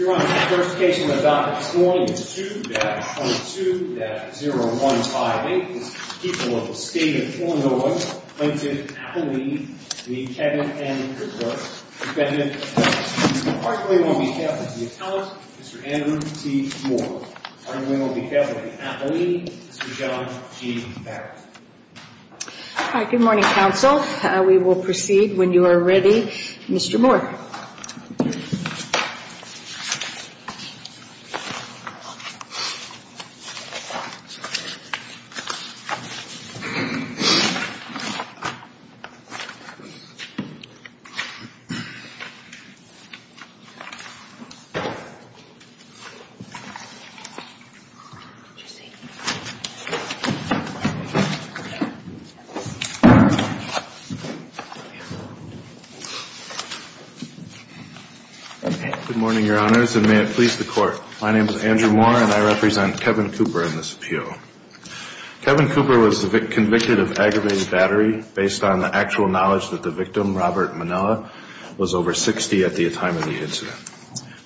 Your Honor, the first case on the docket this morning is 2-22-0158. This is the people of the State of Illinois plaintiff Appolini v. Kevin M. Cooper, defendant of this case. I'm calling on behalf of the Attellant, Mr. Andrew T. Moore. I'm calling on behalf of the Appolini, Mr. John G. Barrett. Good morning, counsel. We will proceed when you are ready. Mr. Moore. Good morning, Your Honors, and may it please the Court. My name is Andrew Moore, and I represent Kevin Cooper in this appeal. Kevin Cooper was convicted of aggravated battery based on the actual knowledge that the victim, Robert Manella, was over 60 at the time of the incident.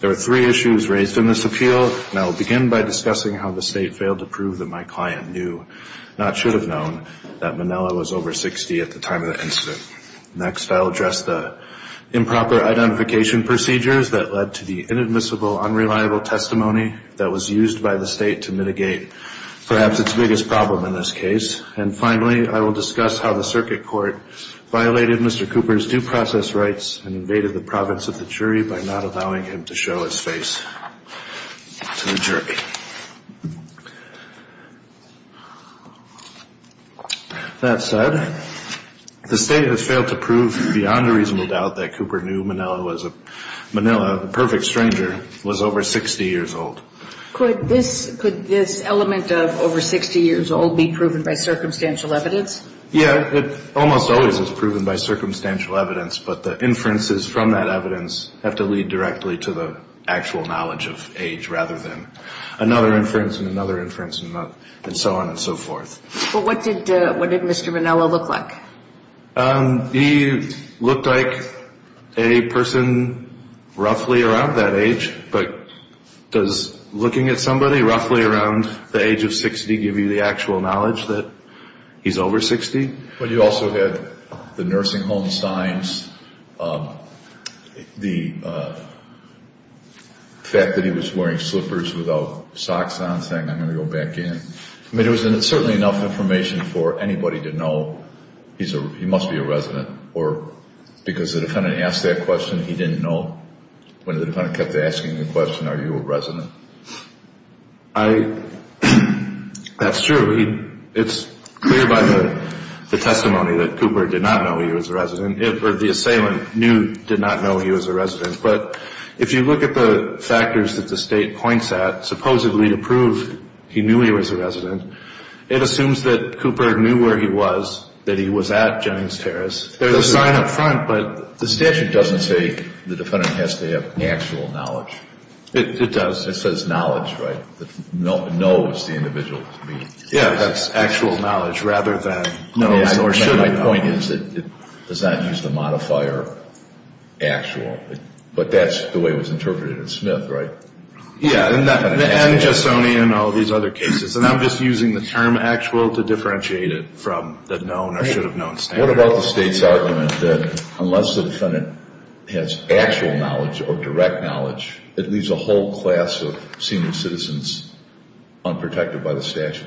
There were three issues raised in this appeal, and I will begin by discussing how the State failed to prove that my client knew, not should have known, that Manella was over 60 at the time of the incident. Next, I'll address the improper identification procedures that led to the inadmissible, unreliable testimony that was used by the State to mitigate perhaps its biggest problem in this case. And finally, I will discuss how the circuit court violated Mr. Cooper's due process rights and invaded the province of the jury by not allowing him to show his face to the jury. That said, the State has failed to prove beyond a reasonable doubt that Cooper knew Manella was a perfect stranger, was over 60 years old. Could this element of over 60 years old be proven by circumstantial evidence? Yeah. It almost always is proven by circumstantial evidence, but the inferences from that evidence have to lead directly to the actual knowledge of age, rather than another inference and another inference and so on and so forth. But what did Mr. Manella look like? He looked like a person roughly around that age. But does looking at somebody roughly around the age of 60 give you the actual knowledge that he's over 60? Well, you also had the nursing home signs, the fact that he was wearing slippers without socks on, saying, I'm going to go back in. I mean, it was certainly enough information for anybody to know he must be a resident, or because the defendant asked that question, he didn't know. When the defendant kept asking the question, are you a resident? That's true. It's clear by the testimony that Cooper did not know he was a resident, or the assailant knew, did not know he was a resident. But if you look at the factors that the State points at, supposedly to prove he knew he was a resident, it assumes that Cooper knew where he was, that he was at James Terrace. There's a sign up front, but the statute doesn't say the defendant has to have actual knowledge. It does. It says knowledge, right? Knows the individual to me. Yeah, that's actual knowledge rather than known or should have known. My point is that it does not use the modifier actual, but that's the way it was interpreted in Smith, right? Yeah, and in all these other cases, and I'm just using the term actual to differentiate it from the known or should have known standard. What about the State's argument that unless the defendant has actual knowledge or direct knowledge, it leaves a whole class of senior citizens unprotected by the statute?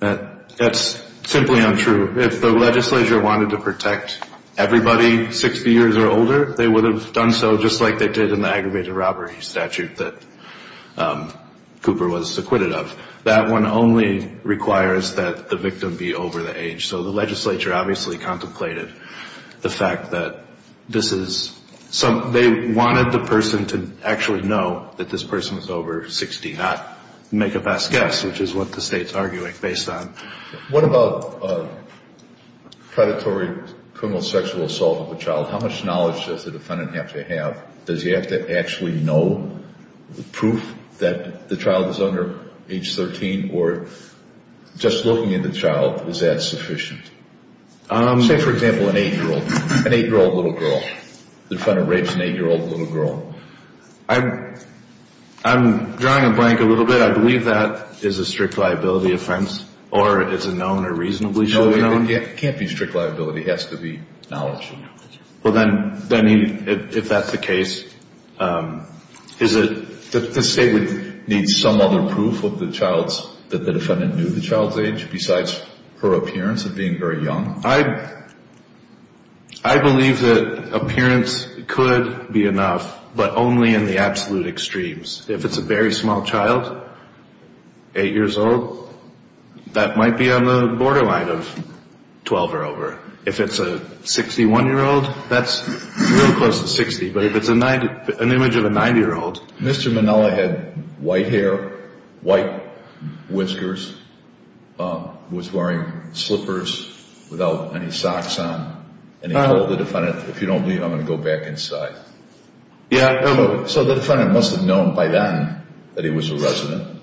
That's simply untrue. If the legislature wanted to protect everybody 60 years or older, they would have done so just like they did in the aggravated robbery statute that Cooper was acquitted of. That one only requires that the victim be over the age. So the legislature obviously contemplated the fact that this is, they wanted the person to actually know that this person was over 60, not make a best guess, which is what the State's arguing based on. What about predatory criminal sexual assault of a child? How much knowledge does the defendant have to have? Does he have to actually know the proof that the child is under age 13 or just looking at the child, is that sufficient? Say, for example, an 8-year-old, an 8-year-old little girl, the defendant rapes an 8-year-old little girl. I'm drawing a blank a little bit. But I believe that is a strict liability offense or is it known or reasonably should be known? It can't be strict liability. It has to be knowledge. Well, then, if that's the case, is it that the State would need some other proof of the child's, that the defendant knew the child's age besides her appearance of being very young? I believe that appearance could be enough, but only in the absolute extremes. If it's a very small child, 8 years old, that might be on the borderline of 12 or over. If it's a 61-year-old, that's real close to 60, but if it's an image of a 90-year-old. Mr. Minnelli had white hair, white whiskers, was wearing slippers without any socks on, and he told the defendant, if you don't leave, I'm going to go back inside. So the defendant must have known by then that he was a resident.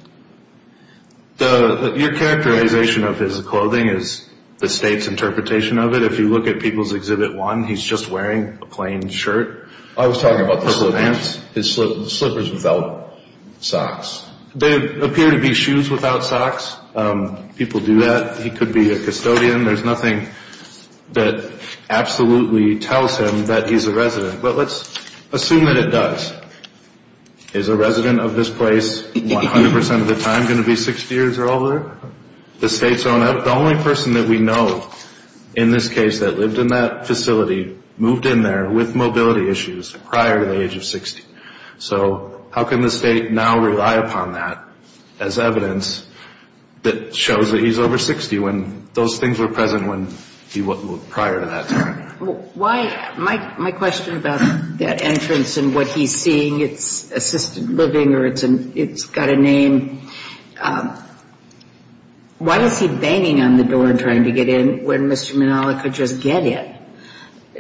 Your characterization of his clothing is the State's interpretation of it. If you look at People's Exhibit 1, he's just wearing a plain shirt. I was talking about his slippers without socks. There appear to be shoes without socks. People do that. He could be a custodian. There's nothing that absolutely tells him that he's a resident, but let's assume that it does. Is a resident of this place 100% of the time going to be 60 years or older? The only person that we know in this case that lived in that facility moved in there with mobility issues prior to the age of 60. So how can the State now rely upon that as evidence that shows that he's over 60 when those things were present prior to that time? My question about that entrance and what he's seeing, it's assisted living or it's got a name, why is he banging on the door trying to get in when Mr. Minnelli could just get in?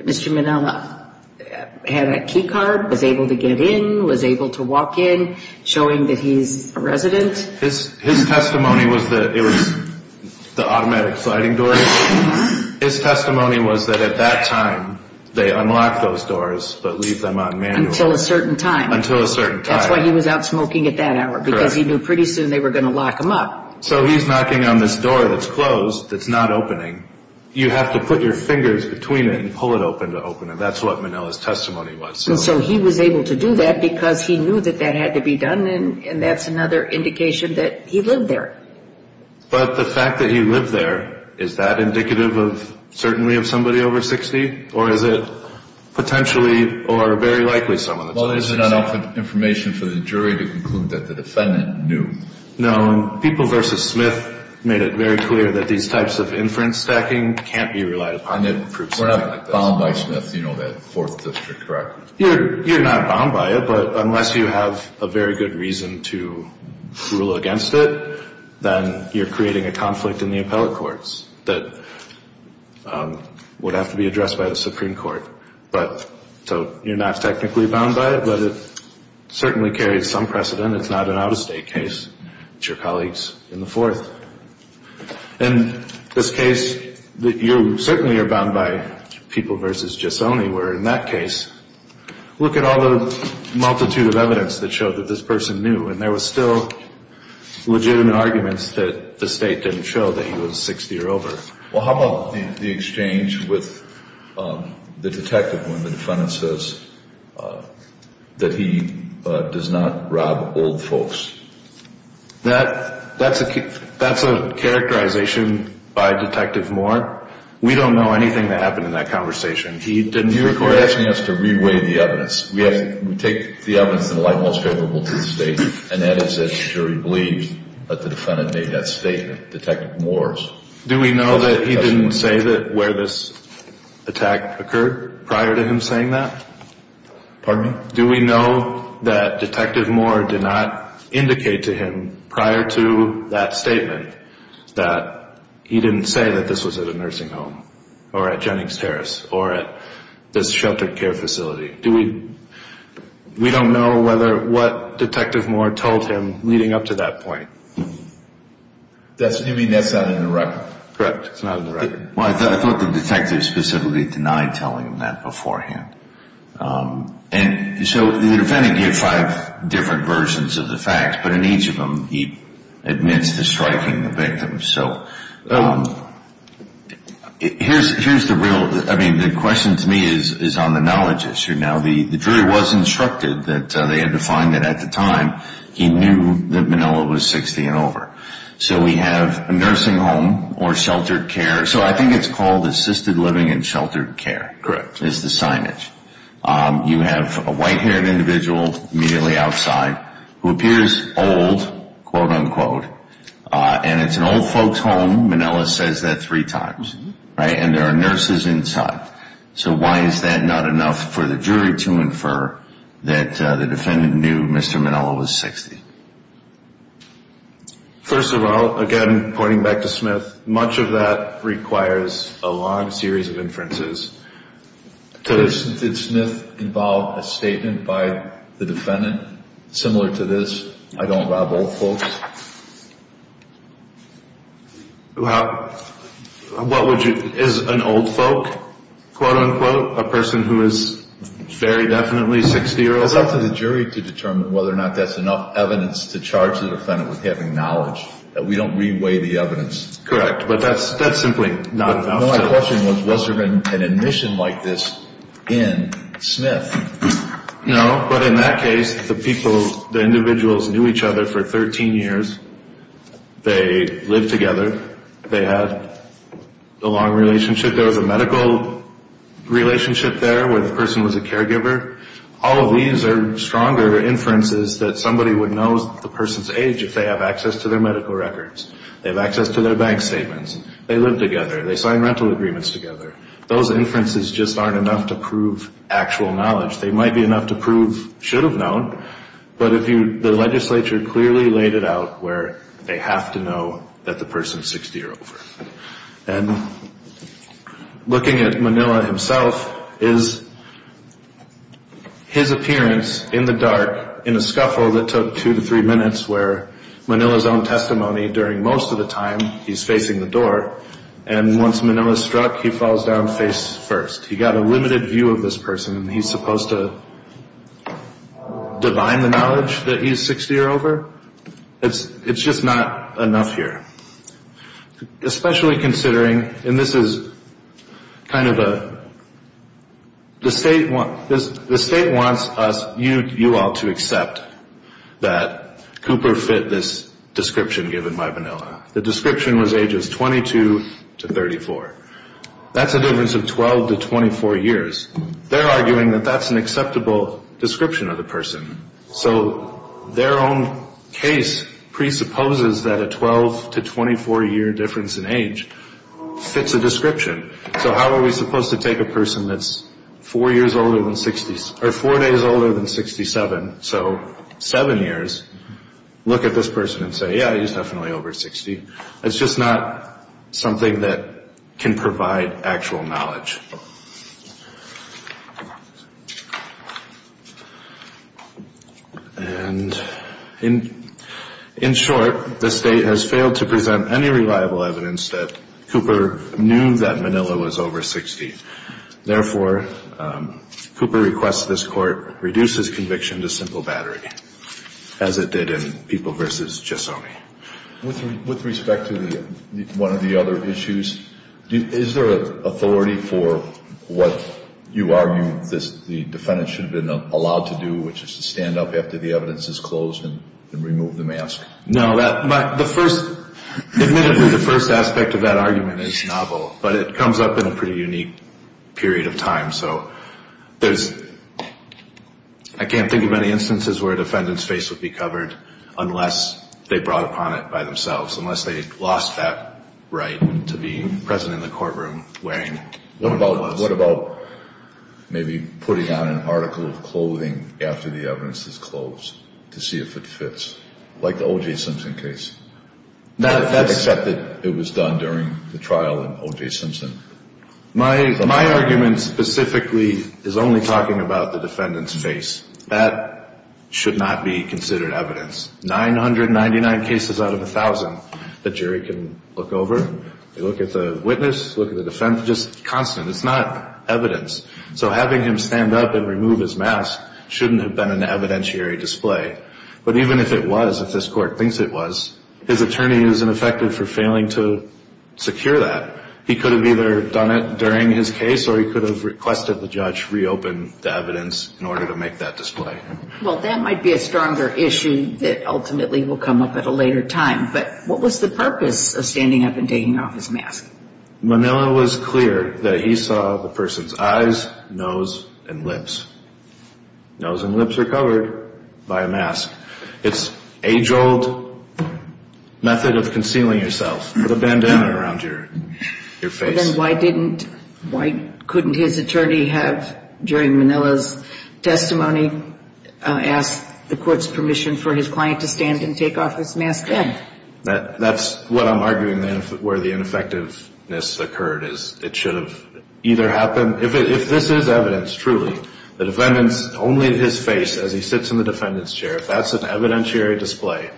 Mr. Minnelli had a key card, was able to get in, was able to walk in, showing that he's a resident? His testimony was that it was the automatic sliding door. His testimony was that at that time they unlocked those doors but leave them on manually. Until a certain time. That's why he was out smoking at that hour, because he knew pretty soon they were going to lock him up. So he's knocking on this door that's closed, that's not opening. You have to put your fingers between it and pull it open to open it. That's what Minnelli's testimony was. And so he was able to do that because he knew that that had to be done and that's another indication that he lived there. But the fact that he lived there, is that indicative of certainly of somebody over 60? Or is it potentially or very likely someone that's over 60? Well, there's enough information for the jury to conclude that the defendant knew. No, people versus Smith made it very clear that these types of inference stacking can't be relied upon. We're not bound by Smith, you know that Fourth District, correct? You're not bound by it, but unless you have a very good reason to rule against it, then you're creating a conflict in the appellate courts that would have to be addressed by the Supreme Court. So you're not technically bound by it, but it certainly carries some precedent. It's not an out-of-state case. It's your colleagues in the Fourth. In this case, you certainly are bound by people versus Giussone, where in that case, look at all the multitude of evidence that showed that this person knew, and there was still legitimate arguments that the State didn't show that he was 60 or over. Well, how about the exchange with the detective when the defendant says that he does not rob old folks? That's a characterization by Detective Moore. We don't know anything that happened in that conversation. You're asking us to re-weigh the evidence. We take the evidence in the light most favorable to the State, and that is that the jury believes that the defendant made that statement, Detective Moore's. Do we know that he didn't say where this attack occurred prior to him saying that? Pardon me? Do we know that Detective Moore did not indicate to him prior to that statement that he didn't say that this was at a nursing home or at Jennings Terrace or at this sheltered care facility? We don't know what Detective Moore told him leading up to that point. You mean that's not in the record? Correct. It's not in the record. Well, I thought the detective specifically denied telling him that beforehand. And so the defendant gave five different versions of the facts, but in each of them he admits to striking the victim. So here's the real, I mean, the question to me is on the knowledge issue. Now, the jury was instructed that they had to find that at the time he knew that Manila was 60 and over. So we have a nursing home or sheltered care. So I think it's called assisted living and sheltered care. Correct. It's the signage. You have a white-haired individual immediately outside who appears old, quote, unquote. And it's an old folks home. Manila says that three times, right? And there are nurses inside. So why is that not enough for the jury to infer that the defendant knew Mr. Manila was 60? First of all, again, pointing back to Smith, much of that requires a long series of inferences. Did Smith involve a statement by the defendant similar to this, I don't rob old folks? Is an old folk, quote, unquote, a person who is very definitely 60 years old? It's up to the jury to determine whether or not that's enough evidence to charge the defendant with having knowledge, that we don't re-weigh the evidence. Correct. But that's simply not enough. My question was, was there an admission like this in Smith? No, but in that case, the people, the individuals knew each other for 13 years. They lived together. They had a long relationship. There was a medical relationship there where the person was a caregiver. All of these are stronger inferences that somebody would know the person's age if they have access to their medical records. They have access to their bank statements. They live together. They sign rental agreements together. Those inferences just aren't enough to prove actual knowledge. They might be enough to prove should have known, but the legislature clearly laid it out where they have to know that the person's 60 or over. And looking at Manila himself is his appearance in the dark in a scuffle that took two to three minutes where Manila's own testimony during most of the time, he's facing the door, and once Manila's struck, he falls down face first. He got a limited view of this person, and he's supposed to divine the knowledge that he's 60 or over? It's just not enough here, especially considering, and this is kind of a, the state wants us, you all, to accept that Cooper fit this description given by Manila. The description was ages 22 to 34. That's a difference of 12 to 24 years. They're arguing that that's an acceptable description of the person, so their own case presupposes that a 12 to 24-year difference in age fits a description. So how are we supposed to take a person that's four years older than 60, or four days older than 67, so seven years, look at this person and say, yeah, he's definitely over 60? It's just not something that can provide actual knowledge. And in short, the state has failed to present any reliable evidence that Cooper knew that Manila was over 60. Therefore, Cooper requests this Court reduce his conviction to simple battery, as it did in People v. Chesone. With respect to one of the other issues, is there authority for what you argue the defendant should have been allowed to do, which is to stand up after the evidence is closed and remove the mask? No. Admittedly, the first aspect of that argument is novel, but it comes up in a pretty unique period of time. So I can't think of any instances where a defendant's face would be covered unless they brought upon it by themselves, unless they lost that right to be present in the courtroom wearing one of those. What about maybe putting on an article of clothing after the evidence is closed to see if it fits, like the O.J. Simpson case, except that it was done during the trial in O.J. Simpson? My argument specifically is only talking about the defendant's face. That should not be considered evidence. 999 cases out of 1,000 the jury can look over. They look at the witness, look at the defendant, just constant. It's not evidence. So having him stand up and remove his mask shouldn't have been an evidentiary display. But even if it was, if this Court thinks it was, his attorney is ineffective for failing to secure that. He could have either done it during his case or he could have requested the judge reopen the evidence in order to make that display. Well, that might be a stronger issue that ultimately will come up at a later time. But what was the purpose of standing up and taking off his mask? Manila was clear that he saw the person's eyes, nose, and lips. Nose and lips are covered by a mask. It's age-old method of concealing yourself. Put a bandana around your face. Then why didn't, why couldn't his attorney have, during Manila's testimony, asked the Court's permission for his client to stand and take off his mask then? That's what I'm arguing where the ineffectiveness occurred is it should have either happened. If this is evidence, truly, the defendant's only his face as he sits in the defendant's chair, that's an evidentiary display.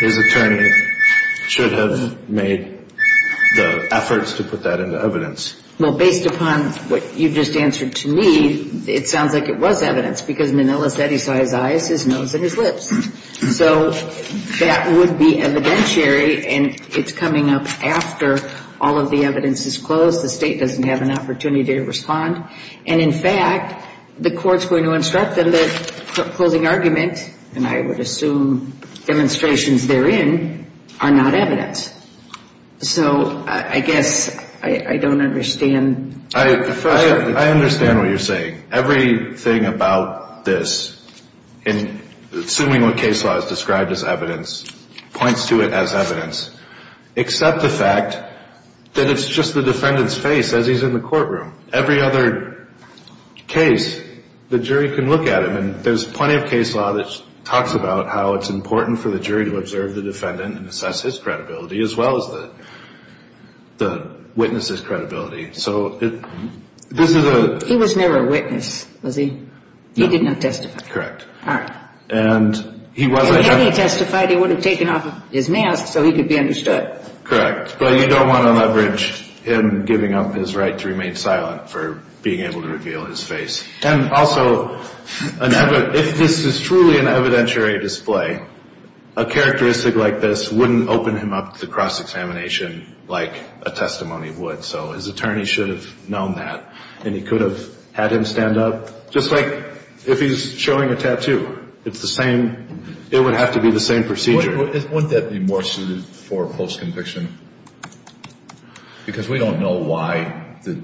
His attorney should have made the efforts to put that into evidence. Well, based upon what you've just answered to me, it sounds like it was evidence because Manila said he saw his eyes, his nose, and his lips. So that would be evidentiary, and it's coming up after all of the evidence is closed. The State doesn't have an opportunity to respond. And, in fact, the Court's going to instruct them that the closing argument, and I would assume demonstrations therein, are not evidence. So I guess I don't understand. I understand what you're saying. Everything about this, assuming what case law has described as evidence, points to it as evidence, except the fact that it's just the defendant's face as he's in the courtroom. Every other case, the jury can look at him, and there's plenty of case law that talks about how it's important for the jury to observe the defendant and assess his credibility as well as the witness's credibility. So this is a ‑‑ He was never a witness, was he? No. He did not testify. Correct. All right. If he had testified, he would have taken off his mask so he could be understood. Correct. But you don't want to leverage him giving up his right to remain silent for being able to reveal his face. And also, if this is truly an evidentiary display, a characteristic like this wouldn't open him up to cross-examination like a testimony would. So his attorney should have known that, and he could have had him stand up. Just like if he's showing a tattoo. It's the same. It would have to be the same procedure. Wouldn't that be more suited for post-conviction? Because we don't know why the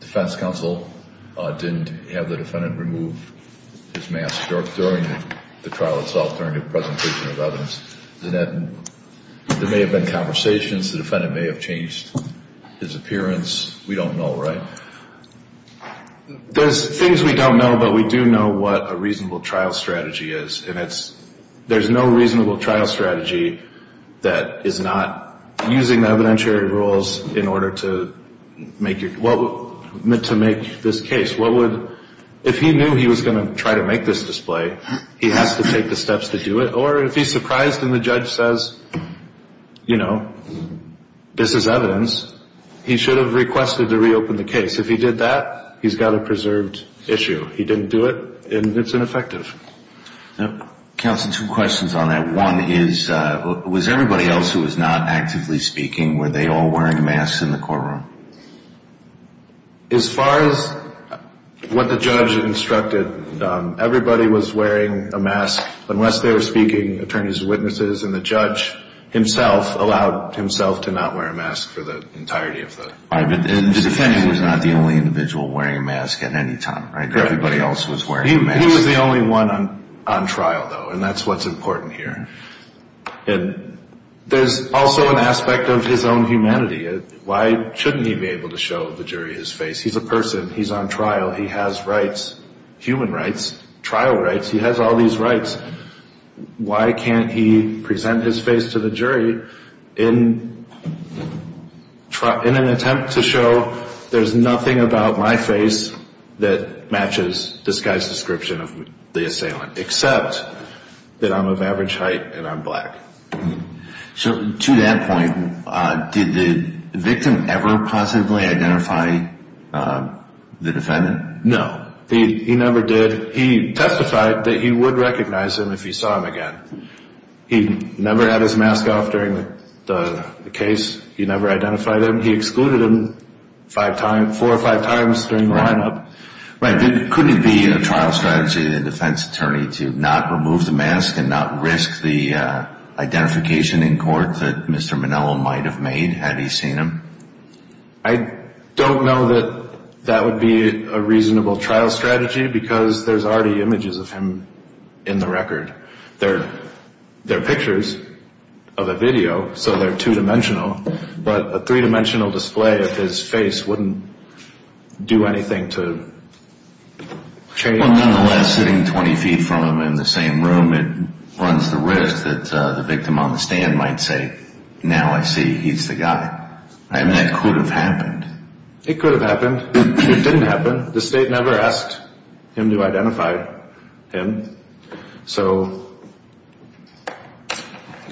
defense counsel didn't have the defendant remove his mask during the trial itself, during the presentation of evidence. There may have been conversations. The defendant may have changed his appearance. We don't know, right? There's things we don't know, but we do know what a reasonable trial strategy is. There's no reasonable trial strategy that is not using evidentiary rules in order to make this case. If he knew he was going to try to make this display, he has to take the steps to do it. Or if he's surprised and the judge says, you know, this is evidence, he should have requested to reopen the case. If he did that, he's got a preserved issue. He didn't do it, and it's ineffective. Counsel, two questions on that. One is, was everybody else who was not actively speaking, were they all wearing masks in the courtroom? As far as what the judge instructed, everybody was wearing a mask unless they were speaking, attorneys and witnesses, and the judge himself allowed himself to not wear a mask for the entirety of the case. All right, but the defendant was not the only individual wearing a mask at any time, right? Everybody else was wearing a mask. He was the only one on trial, though, and that's what's important here. And there's also an aspect of his own humanity. Why shouldn't he be able to show the jury his face? He's a person. He's on trial. He has rights, human rights, trial rights. He has all these rights. Why can't he present his face to the jury in an attempt to show there's nothing about my face that matches this guy's description of the assailant, except that I'm of average height and I'm black? So to that point, did the victim ever positively identify the defendant? No, he never did. He testified that he would recognize him if he saw him again. He never had his mask off during the case. He never identified him. He excluded him four or five times during the lineup. Right. Couldn't it be a trial strategy of the defense attorney to not remove the mask and not risk the identification in court that Mr. Manello might have made had he seen him? I don't know that that would be a reasonable trial strategy because there's already images of him in the record. They're pictures of a video, so they're two-dimensional. But a three-dimensional display of his face wouldn't do anything to change it. Well, nonetheless, sitting 20 feet from him in the same room, it runs the risk that the victim on the stand might say, now I see, he's the guy. I mean, that could have happened. It could have happened. It didn't happen. The state never asked him to identify him. So,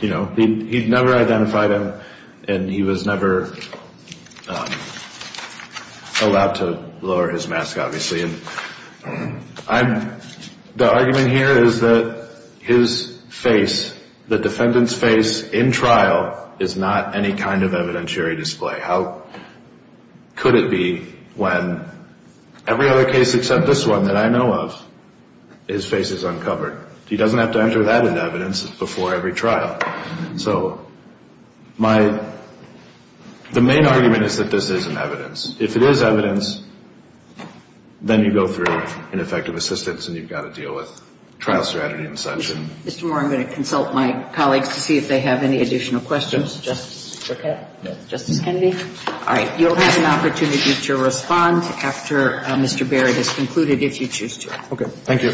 you know, he never identified him, and he was never allowed to lower his mask, obviously. The argument here is that his face, the defendant's face in trial, is not any kind of evidentiary display. How could it be when every other case except this one that I know of, his face is uncovered? He doesn't have to enter that in evidence before every trial. So the main argument is that this isn't evidence. If it is evidence, then you go through an effective assistance, and you've got to deal with trial strategy and such. Mr. Moore, I'm going to consult my colleagues to see if they have any additional questions. Justice Burkett? Yes. Justice Kennedy? All right. You'll have an opportunity to respond after Mr. Barrett has concluded, if you choose to. Okay. Thank you.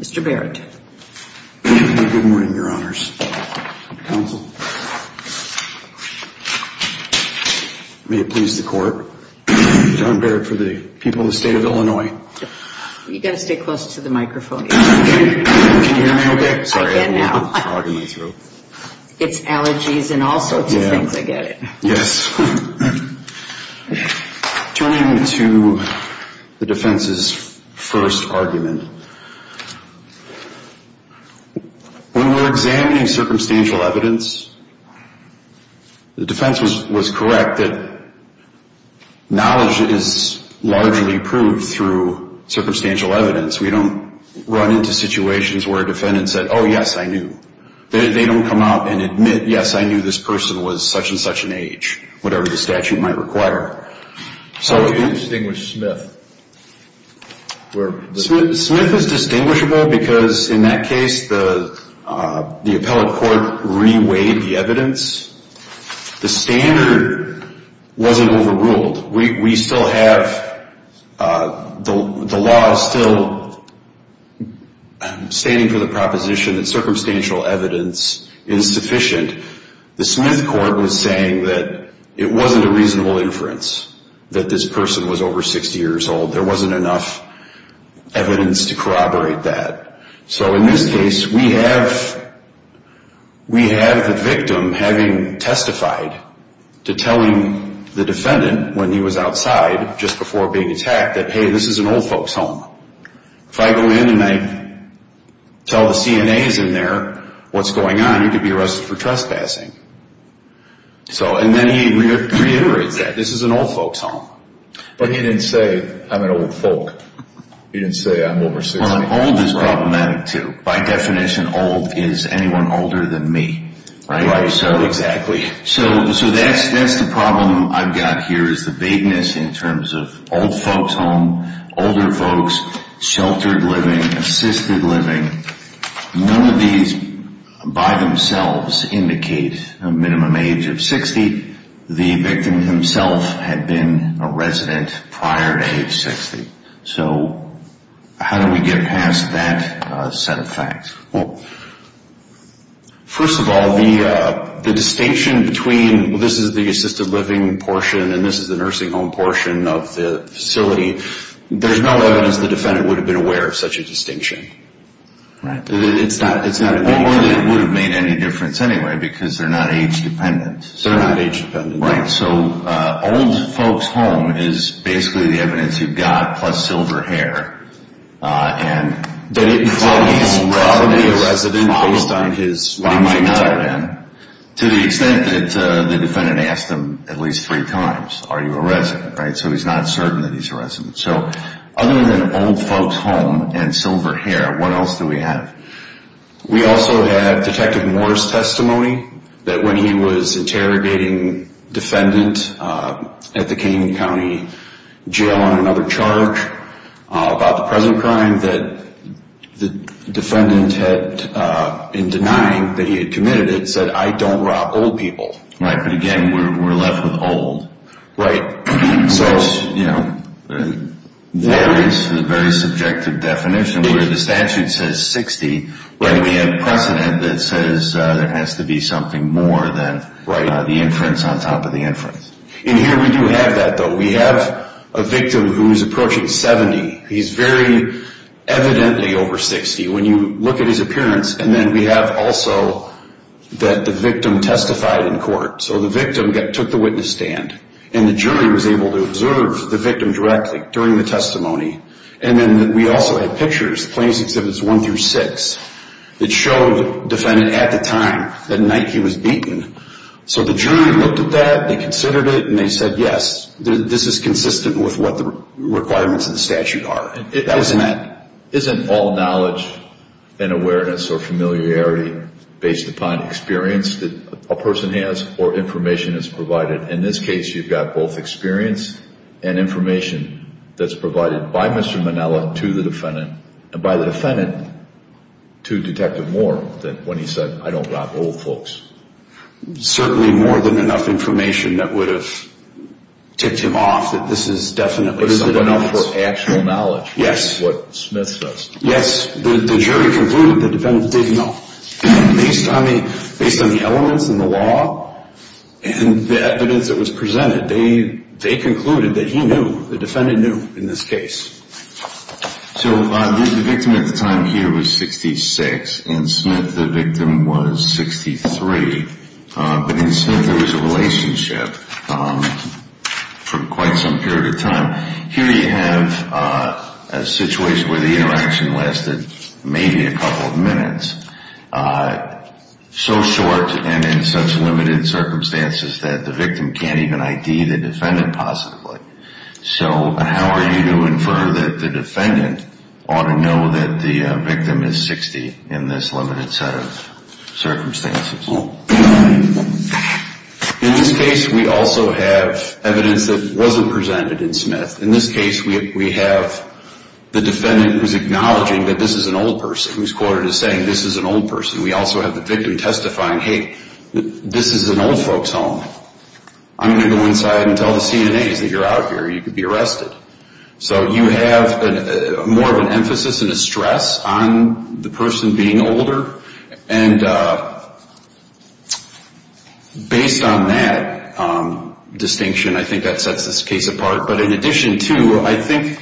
Mr. Barrett. Good morning, Your Honors. Counsel. May it please the Court, John Barrett for the people of the State of Illinois. You've got to stay close to the microphone. Can you hear me okay? I can now. Sorry, I have a little fog in my throat. It's allergies and all sorts of things. Yeah. Yes. Turning to the defense's first argument. When we're examining circumstantial evidence, the defense was correct that knowledge is largely proved through circumstantial evidence. We don't run into situations where a defendant said, oh, yes, I knew. They don't come out and admit, yes, I knew this person was such and such an age, whatever the statute might require. How do you distinguish Smith? Smith is distinguishable because, in that case, the appellate court reweighed the evidence. The standard wasn't overruled. We still have the law still standing for the proposition that circumstantial evidence is sufficient. The Smith court was saying that it wasn't a reasonable inference that this person was over 60 years old. There wasn't enough evidence to corroborate that. In this case, we have the victim having testified to telling the defendant when he was outside, just before being attacked, that, hey, this is an old folks' home. If I go in and I tell the CNAs in there what's going on, you could be arrested for trespassing. Then he reiterates that. This is an old folks' home. But he didn't say, I'm an old folk. He didn't say, I'm over 60. Old is problematic, too. By definition, old is anyone older than me. Exactly. That's the problem I've got here is the vagueness in terms of old folks' home, older folks, sheltered living, assisted living. None of these by themselves indicate a minimum age of 60. The victim himself had been a resident prior to age 60. So how do we get past that set of facts? Well, first of all, the distinction between this is the assisted living portion and this is the nursing home portion of the facility, there's no evidence the defendant would have been aware of such a distinction. Right. It's not a big difference. It wouldn't have made any difference anyway because they're not age dependent. They're not age dependent. Right. So old folks' home is basically the evidence you've got plus silver hair. But he's probably a resident based on his... He might not have been to the extent that the defendant asked him at least three times, are you a resident? Right. So he's not certain that he's a resident. So other than old folks' home and silver hair, what else do we have? We also have Detective Moore's testimony that when he was interrogating defendant at the Canyon County Jail on another charge about the present crime, that the defendant had, in denying that he had committed it, said, I don't rob old people. Right. But again, we're left with old. Right. So, you know, there is a very subjective definition where the statute says 60, but we have precedent that says there has to be something more than the inference on top of the inference. And here we do have that, though. We have a victim who's approaching 70. He's very evidently over 60. When you look at his appearance, and then we have also that the victim testified in court. So the victim took the witness stand, and the jury was able to observe the victim directly during the testimony. And then we also had pictures, plaintiffs' exhibits one through six, that showed the defendant at the time that night he was beaten. So the jury looked at that, they considered it, and they said, yes, this is consistent with what the requirements of the statute are. Isn't all knowledge and awareness or familiarity based upon experience that a person has or information that's provided? In this case, you've got both experience and information that's provided by Mr. Manella to the defendant, and by the defendant to Detective Moore when he said, I don't rob old folks. Certainly more than enough information that would have ticked him off that this is definitely someone else. Yes. Yes. The jury concluded the defendant didn't know. Based on the elements in the law and the evidence that was presented, they concluded that he knew, the defendant knew in this case. So the victim at the time here was 66, and Smith, the victim, was 63. But in Smith, there was a relationship for quite some period of time. Here you have a situation where the interaction lasted maybe a couple of minutes, so short and in such limited circumstances that the victim can't even ID the defendant positively. So how are you to infer that the defendant ought to know that the victim is 60 in this limited set of circumstances? In this case, we also have evidence that wasn't presented in Smith. In this case, we have the defendant was acknowledging that this is an old person. He was quoted as saying, this is an old person. We also have the victim testifying, hey, this is an old folks' home. I'm going to go inside and tell the CNAs that you're out here or you could be arrested. So you have more of an emphasis and a stress on the person being older, and based on that distinction, I think that sets this case apart. But in addition to, I think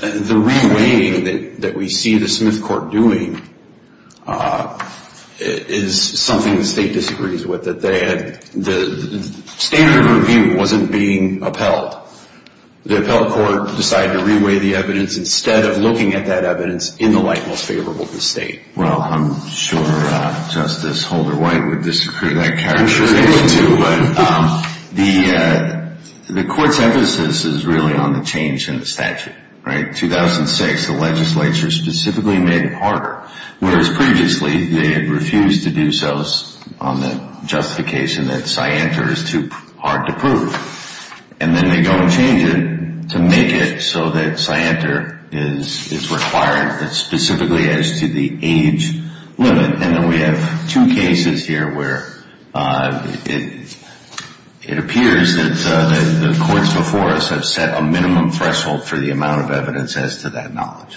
the re-weighing that we see the Smith court doing is something the state disagrees with, that the standard review wasn't being upheld. The appellate court decided to re-weigh the evidence instead of looking at that evidence in the light most favorable to the state. Well, I'm sure Justice Holder-White would disagree with that characterization too, but the court's emphasis is really on the change in the statute, right? In 2006, the legislature specifically made it harder, whereas previously they had refused to do so on the justification that Syantar is too hard to prove. And then they go and change it to make it so that Syantar is required specifically as to the age limit. And then we have two cases here where it appears that the courts before us have set a minimum threshold for the amount of evidence as to that knowledge.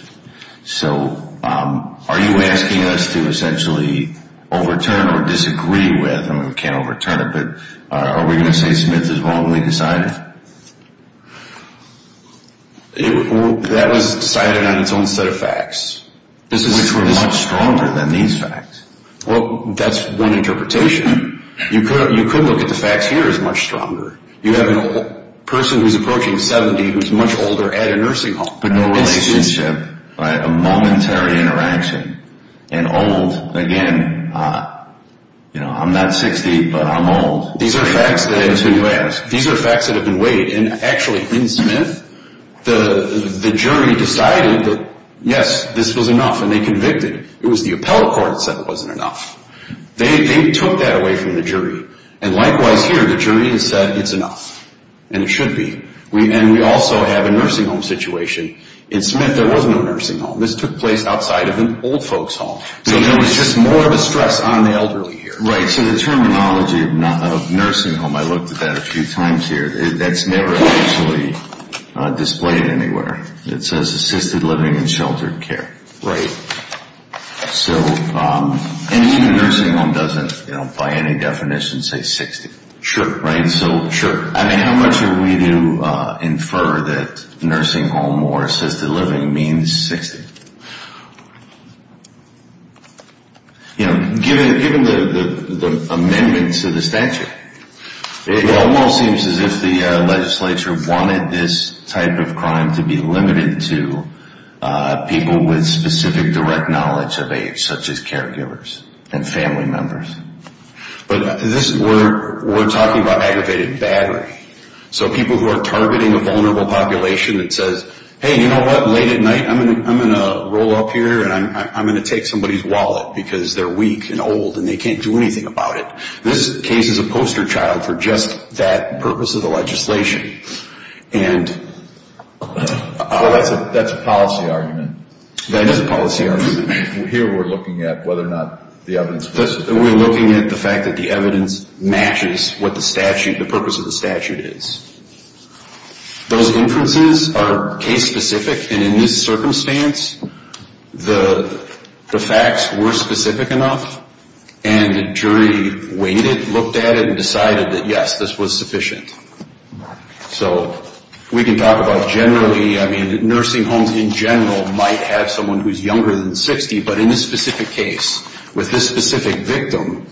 So are you asking us to essentially overturn or disagree with, I mean we can't overturn it, but are we going to say Smith is wrongly decided? That was decided on its own set of facts, which were much stronger than these facts. Well, that's one interpretation. You could look at the facts here as much stronger. You have a person who's approaching 70 who's much older at a nursing home. But no relationship, right? A momentary interaction. And old, again, you know, I'm not 60, but I'm old. These are facts that have been weighed. And actually, in Smith, the jury decided that, yes, this was enough, and they convicted. It was the appellate court that said it wasn't enough. They took that away from the jury. And likewise here, the jury has said it's enough, and it should be. And we also have a nursing home situation. In Smith, there was no nursing home. This took place outside of an old folks' home. So there was just more of a stress on the elderly here. Right, so the terminology of nursing home, I looked at that a few times here, that's never actually displayed anywhere. It says assisted living and sheltered care. Right. And even nursing home doesn't, by any definition, say 60. Sure. I mean, how much are we to infer that nursing home or assisted living means 60? You know, given the amendments to the statute, it almost seems as if the legislature wanted this type of crime to be limited to people with specific direct knowledge of age, such as caregivers and family members. But we're talking about aggravated battery. So people who are targeting a vulnerable population that says, hey, you know what, late at night I'm going to roll up here and I'm going to take somebody's wallet because they're weak and old and they can't do anything about it. This case is a poster child for just that purpose of the legislation. Well, that's a policy argument. That is a policy argument. Here we're looking at whether or not the evidence matches. We're looking at the fact that the evidence matches what the purpose of the statute is. Those inferences are case-specific. And in this circumstance, the facts were specific enough, and the jury waited, looked at it, and decided that, yes, this was sufficient. So we can talk about generally, I mean, we can talk about someone who's younger than 60, but in this specific case, with this specific victim,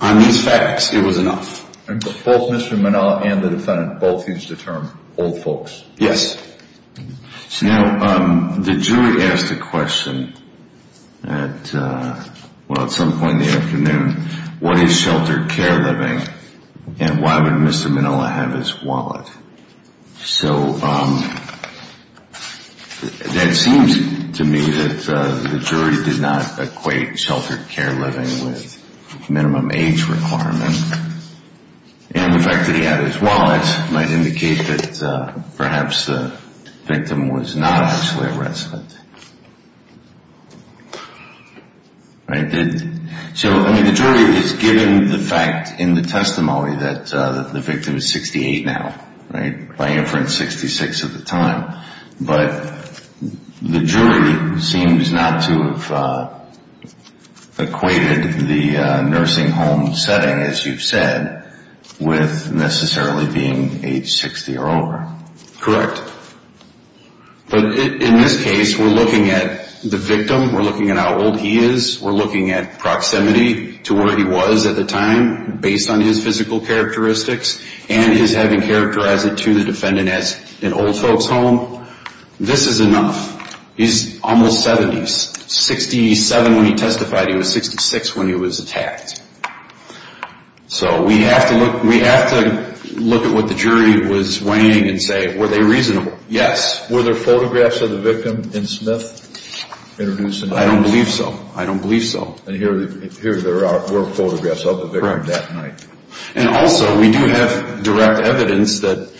on these facts, it was enough. Both Mr. Minilla and the defendant both used the term old folks. Yes. Now, the jury asked a question at some point in the afternoon, what is sheltered care living and why would Mr. Minilla have his wallet? So that seems to me that the jury did not equate sheltered care living with minimum age requirement, and the fact that he had his wallet might indicate that perhaps the victim was not actually a resident. So, I mean, the jury is given the fact in the testimony that the victim is 68 now, by inference 66 at the time, but the jury seems not to have equated the nursing home setting, as you've said, with necessarily being age 60 or over. Correct. But in this case, we're looking at the victim, we're looking at how old he is, we're looking at proximity to where he was at the time, based on his physical characteristics, and his having characterized it to the defendant as an old folks home. This is enough. He's almost 70. 67 when he testified, he was 66 when he was attacked. So we have to look at what the jury was weighing and say, were they reasonable? Yes. Were there photographs of the victim in Smith introduced? I don't believe so. I don't believe so. And here there were photographs of the victim that night. Correct. And also, we do have direct evidence that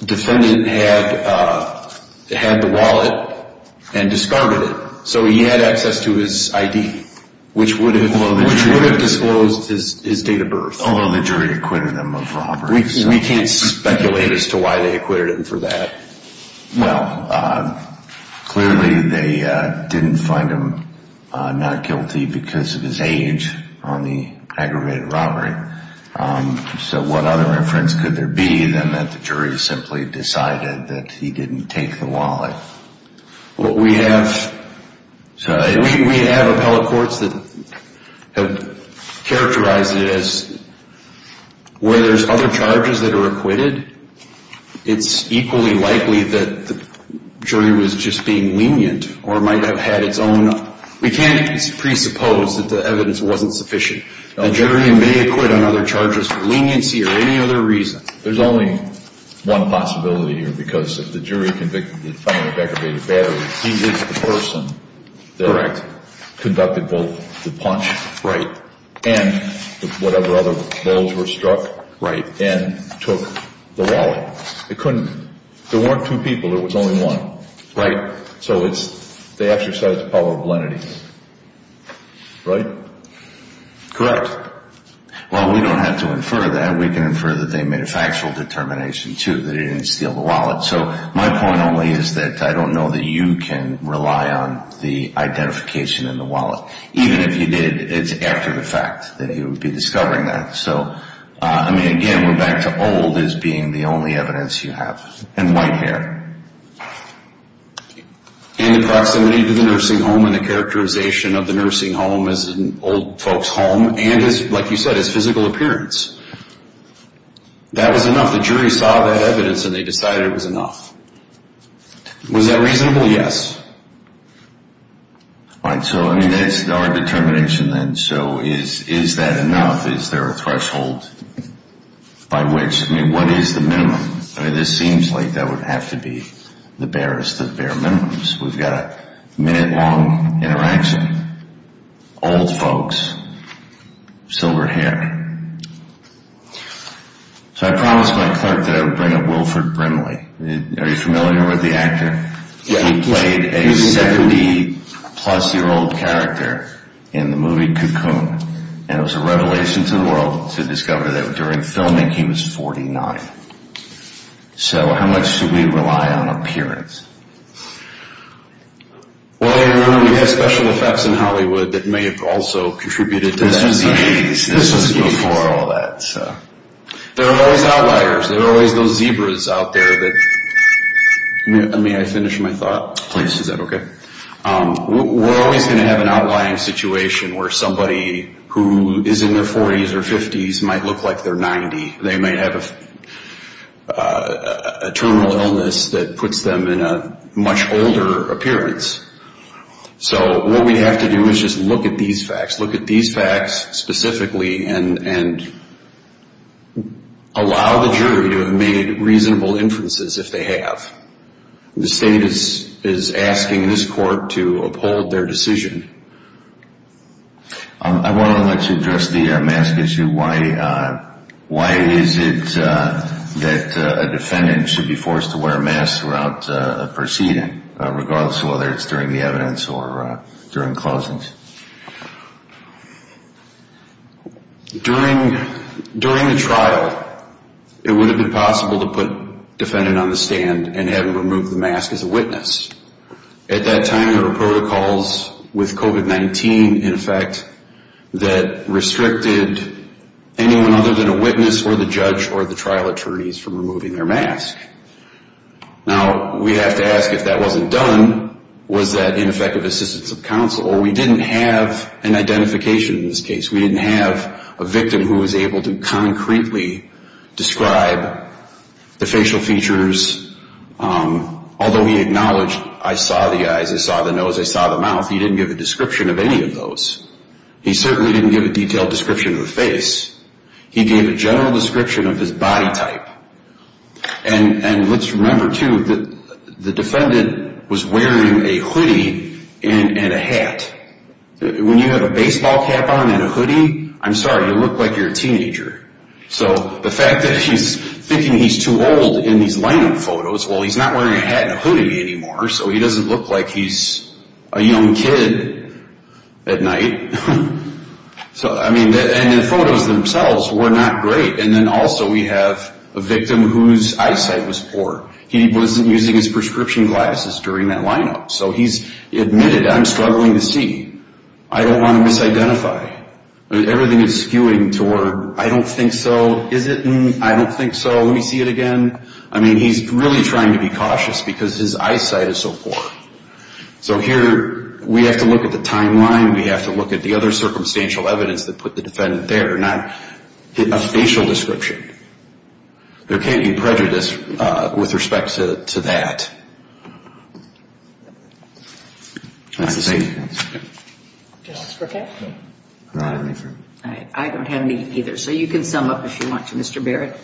the defendant had the wallet and discarded it, So he had access to his ID, which would have disclosed his date of birth. Although the jury acquitted him of robbery. We can't speculate as to why they acquitted him for that. Well, clearly they didn't find him not guilty because of his age on the aggravated robbery. So what other inference could there be than that the jury simply decided that he didn't take the wallet? Well, we have appellate courts that have characterized it as where there's other charges that are acquitted, it's equally likely that the jury was just being lenient or might have had its own. We can't presuppose that the evidence wasn't sufficient. A jury may acquit on other charges for leniency or any other reason. There's only one possibility here because if the jury convicted the defendant of aggravated battery, he is the person that conducted both the punch and whatever other blows were struck and took the wallet. It couldn't. There weren't two people. There was only one. Right. So they exercised the power of leniency. Right? Correct. Well, we don't have to infer that. We can infer that they made a factual determination, too, that he didn't steal the wallet. So my point only is that I don't know that you can rely on the identification in the wallet. Even if you did, it's after the fact that he would be discovering that. So, I mean, again, we're back to old as being the only evidence you have and white hair. And the proximity to the nursing home and the characterization of the nursing home as an old folks' home and, like you said, his physical appearance. That was enough. The jury saw that evidence and they decided it was enough. Was that reasonable? Yes. All right. So, I mean, that's our determination then. So is that enough? Is there a threshold by which? I mean, what is the minimum? I mean, this seems like that would have to be the barest of bare minimums. We've got a minute-long interaction, old folks, silver hair. So I promised my clerk that I would bring up Wilford Brimley. Are you familiar with the actor? Yes. He played a 70-plus-year-old character in the movie Cocoon. And it was a revelation to the world to discover that during filming he was 49. So how much do we rely on appearance? Well, I remember we had special effects in Hollywood that may have also contributed to that. This was before all that. There are always outliers. There are always those zebras out there that... May I finish my thought? Please. Is that okay? We're always going to have an outlying situation where somebody who is in their 40s or 50s might look like they're 90. They may have a terminal illness that puts them in a much older appearance. So what we have to do is just look at these facts, look at these facts specifically, and allow the jury to have made reasonable inferences if they have. The state is asking this court to uphold their decision. I want to address the mask issue. Why is it that a defendant should be forced to wear a mask throughout a proceeding, regardless of whether it's during the evidence or during closings? During the trial, it would have been possible to put a defendant on the stand and have him remove the mask as a witness. At that time, there were protocols with COVID-19, in effect, that restricted anyone other than a witness or the judge or the trial attorneys from removing their mask. Now, we have to ask, if that wasn't done, was that ineffective assistance of counsel? Or we didn't have an identification in this case. We didn't have a victim who was able to concretely describe the facial features. Although he acknowledged, I saw the eyes, I saw the nose, I saw the mouth, he didn't give a description of any of those. He certainly didn't give a detailed description of the face. He gave a general description of his body type. And let's remember, too, that the defendant was wearing a hoodie and a hat. When you have a baseball cap on and a hoodie, I'm sorry, you look like you're a teenager. So the fact that he's thinking he's too old in these lineup photos, well, he's not wearing a hat and a hoodie anymore, so he doesn't look like he's a young kid at night. So, I mean, and the photos themselves were not great. And then also we have a victim whose eyesight was poor. He wasn't using his prescription glasses during that lineup. So he's admitted, I'm struggling to see. I don't want to misidentify. Everything is skewing toward, I don't think so, is it, I don't think so, let me see it again. I mean, he's really trying to be cautious because his eyesight is so poor. So here we have to look at the timeline. We have to look at the other circumstantial evidence that put the defendant there, not a facial description. There can't be prejudice with respect to that. That's the same. Justice Burkett? I don't have any either. So you can sum up if you want to, Mr. Barrett.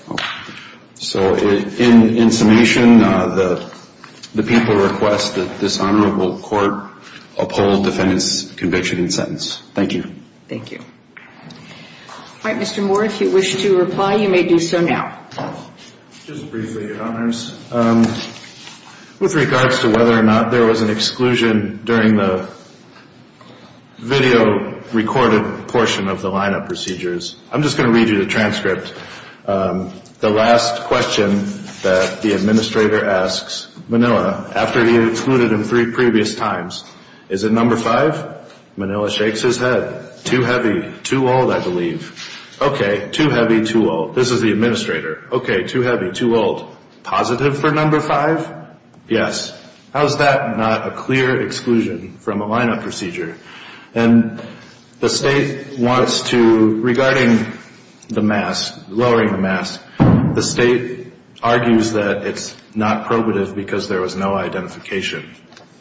So in summation, the people request that this honorable court uphold defendant's conviction and sentence. Thank you. All right, Mr. Moore, if you wish to reply, you may do so now. Just briefly, Your Honors. With regards to whether or not there was an exclusion during the video recorded portion of the lineup procedures, I'm just going to read you the transcript. The last question that the administrator asks Manila, after he had excluded him three previous times, Is it number five? Manila shakes his head. Too heavy. Too old, I believe. Okay, too heavy, too old. This is the administrator. Okay, too heavy, too old. Positive for number five? Yes. How is that not a clear exclusion from a lineup procedure? And the state wants to, regarding the mask, lowering the mask, the state argues that it's not probative because there was no identification.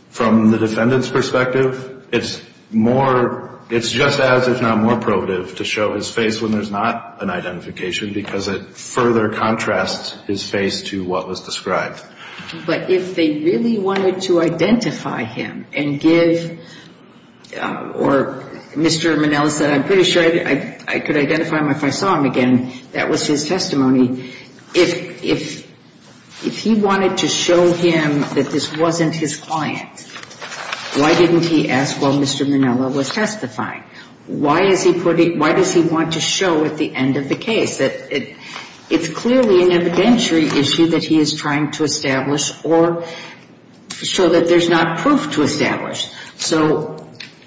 From the defendant's perspective, it's more, it's just as if not more probative to show his face when there's not an identification because it further contrasts his face to what was described. But if they really wanted to identify him and give, or Mr. Manila said, I'm pretty sure I could identify him if I saw him again. That was his testimony. If he wanted to show him that this wasn't his client, why didn't he ask while Mr. Manila was testifying? Why does he want to show at the end of the case? It's clearly an evidentiary issue that he is trying to establish or show that there's not proof to establish. So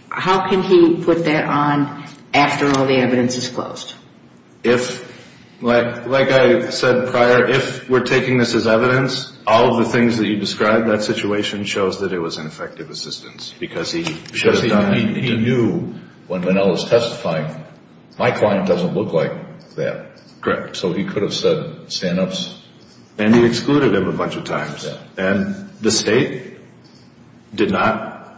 how can he put that on after all the evidence is closed? If, like I said prior, if we're taking this as evidence, all of the things that you described, that situation shows that it was an effective assistance because he knew when Manila was testifying, my client doesn't look like that. Correct. So he could have said stand-ups. And he excluded him a bunch of times. And the state did not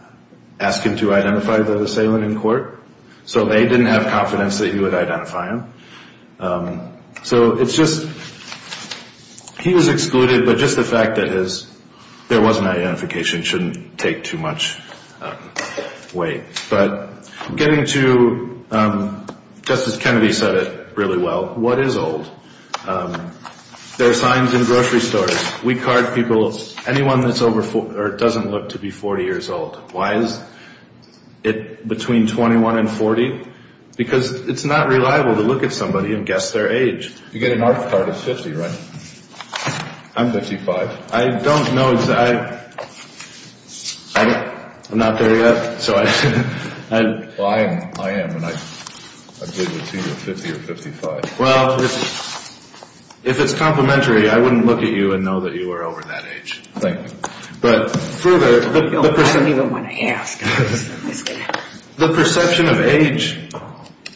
ask him to identify the assailant in court, so they didn't have confidence that he would identify him. So it's just he was excluded, but just the fact that there was an identification shouldn't take too much weight. But getting to, just as Kennedy said it really well, what is old? There are signs in grocery stores. We card people, anyone that doesn't look to be 40 years old. Why is it between 21 and 40? Because it's not reliable to look at somebody and guess their age. You get an ARC card at 50, right? I'm 55. I don't know. I'm not there yet. Well, I am, and I'm good to see you at 50 or 55. Well, if it's complementary, I wouldn't look at you and know that you were over that age. Thank you. I don't even want to ask. The perception of age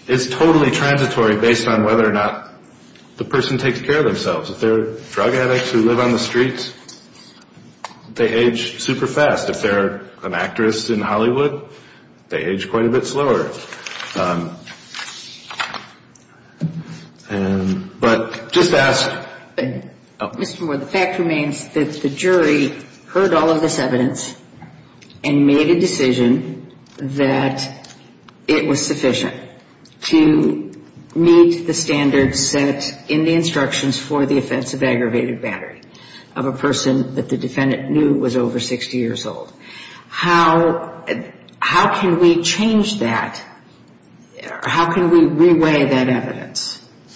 is totally transitory based on whether or not the person takes care of themselves. If they're drug addicts who live on the streets, they age super fast. If they're an actress in Hollywood, they age quite a bit slower. But just ask. Mr. Moore, the fact remains that the jury heard all of this evidence and made a decision that it was sufficient to meet the standards set in the instructions for the offense of aggravated battery of a person that the defendant knew was over 60 years old. How can we change that? How can we re-weigh that evidence?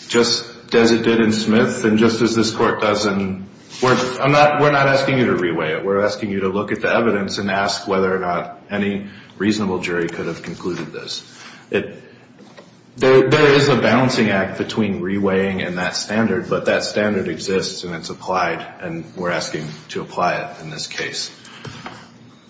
Just as it did in Smith and just as this court does. We're not asking you to re-weigh it. We're asking you to look at the evidence and ask whether or not any reasonable jury could have concluded this. There is a balancing act between re-weighing and that standard, but that standard exists and it's applied, and we're asking to apply it in this case.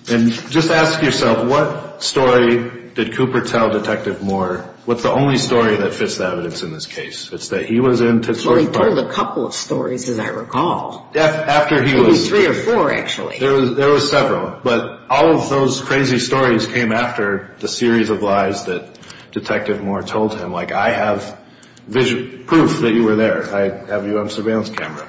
And just ask yourself, what story did Cooper tell Detective Moore? What's the only story that fits the evidence in this case? Well, he told a couple of stories, as I recall. Maybe three or four, actually. There were several, but all of those crazy stories came after the series of lies that Detective Moore told him. Like, I have proof that you were there. I have you on surveillance camera.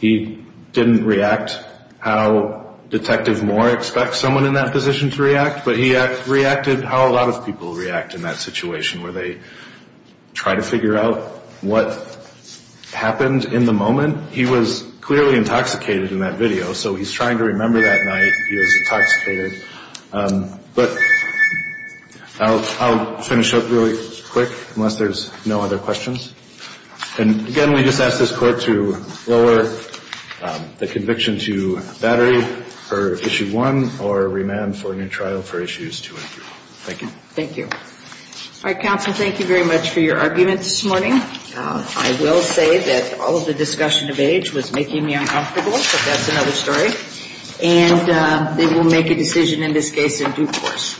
He didn't react how Detective Moore expects someone in that position to react, but he reacted how a lot of people react in that situation where they try to figure out what happened in the moment. He was clearly intoxicated in that video, so he's trying to remember that night he was intoxicated. But I'll finish up really quick unless there's no other questions. And again, we just ask this Court to lower the conviction to battery for Issue 1 or remand for a new trial for Issues 2 and 3. Thank you. Thank you. All right, counsel, thank you very much for your argument this morning. I will say that all of the discussion of age was making me uncomfortable, but that's another story. And they will make a decision in this case in due course.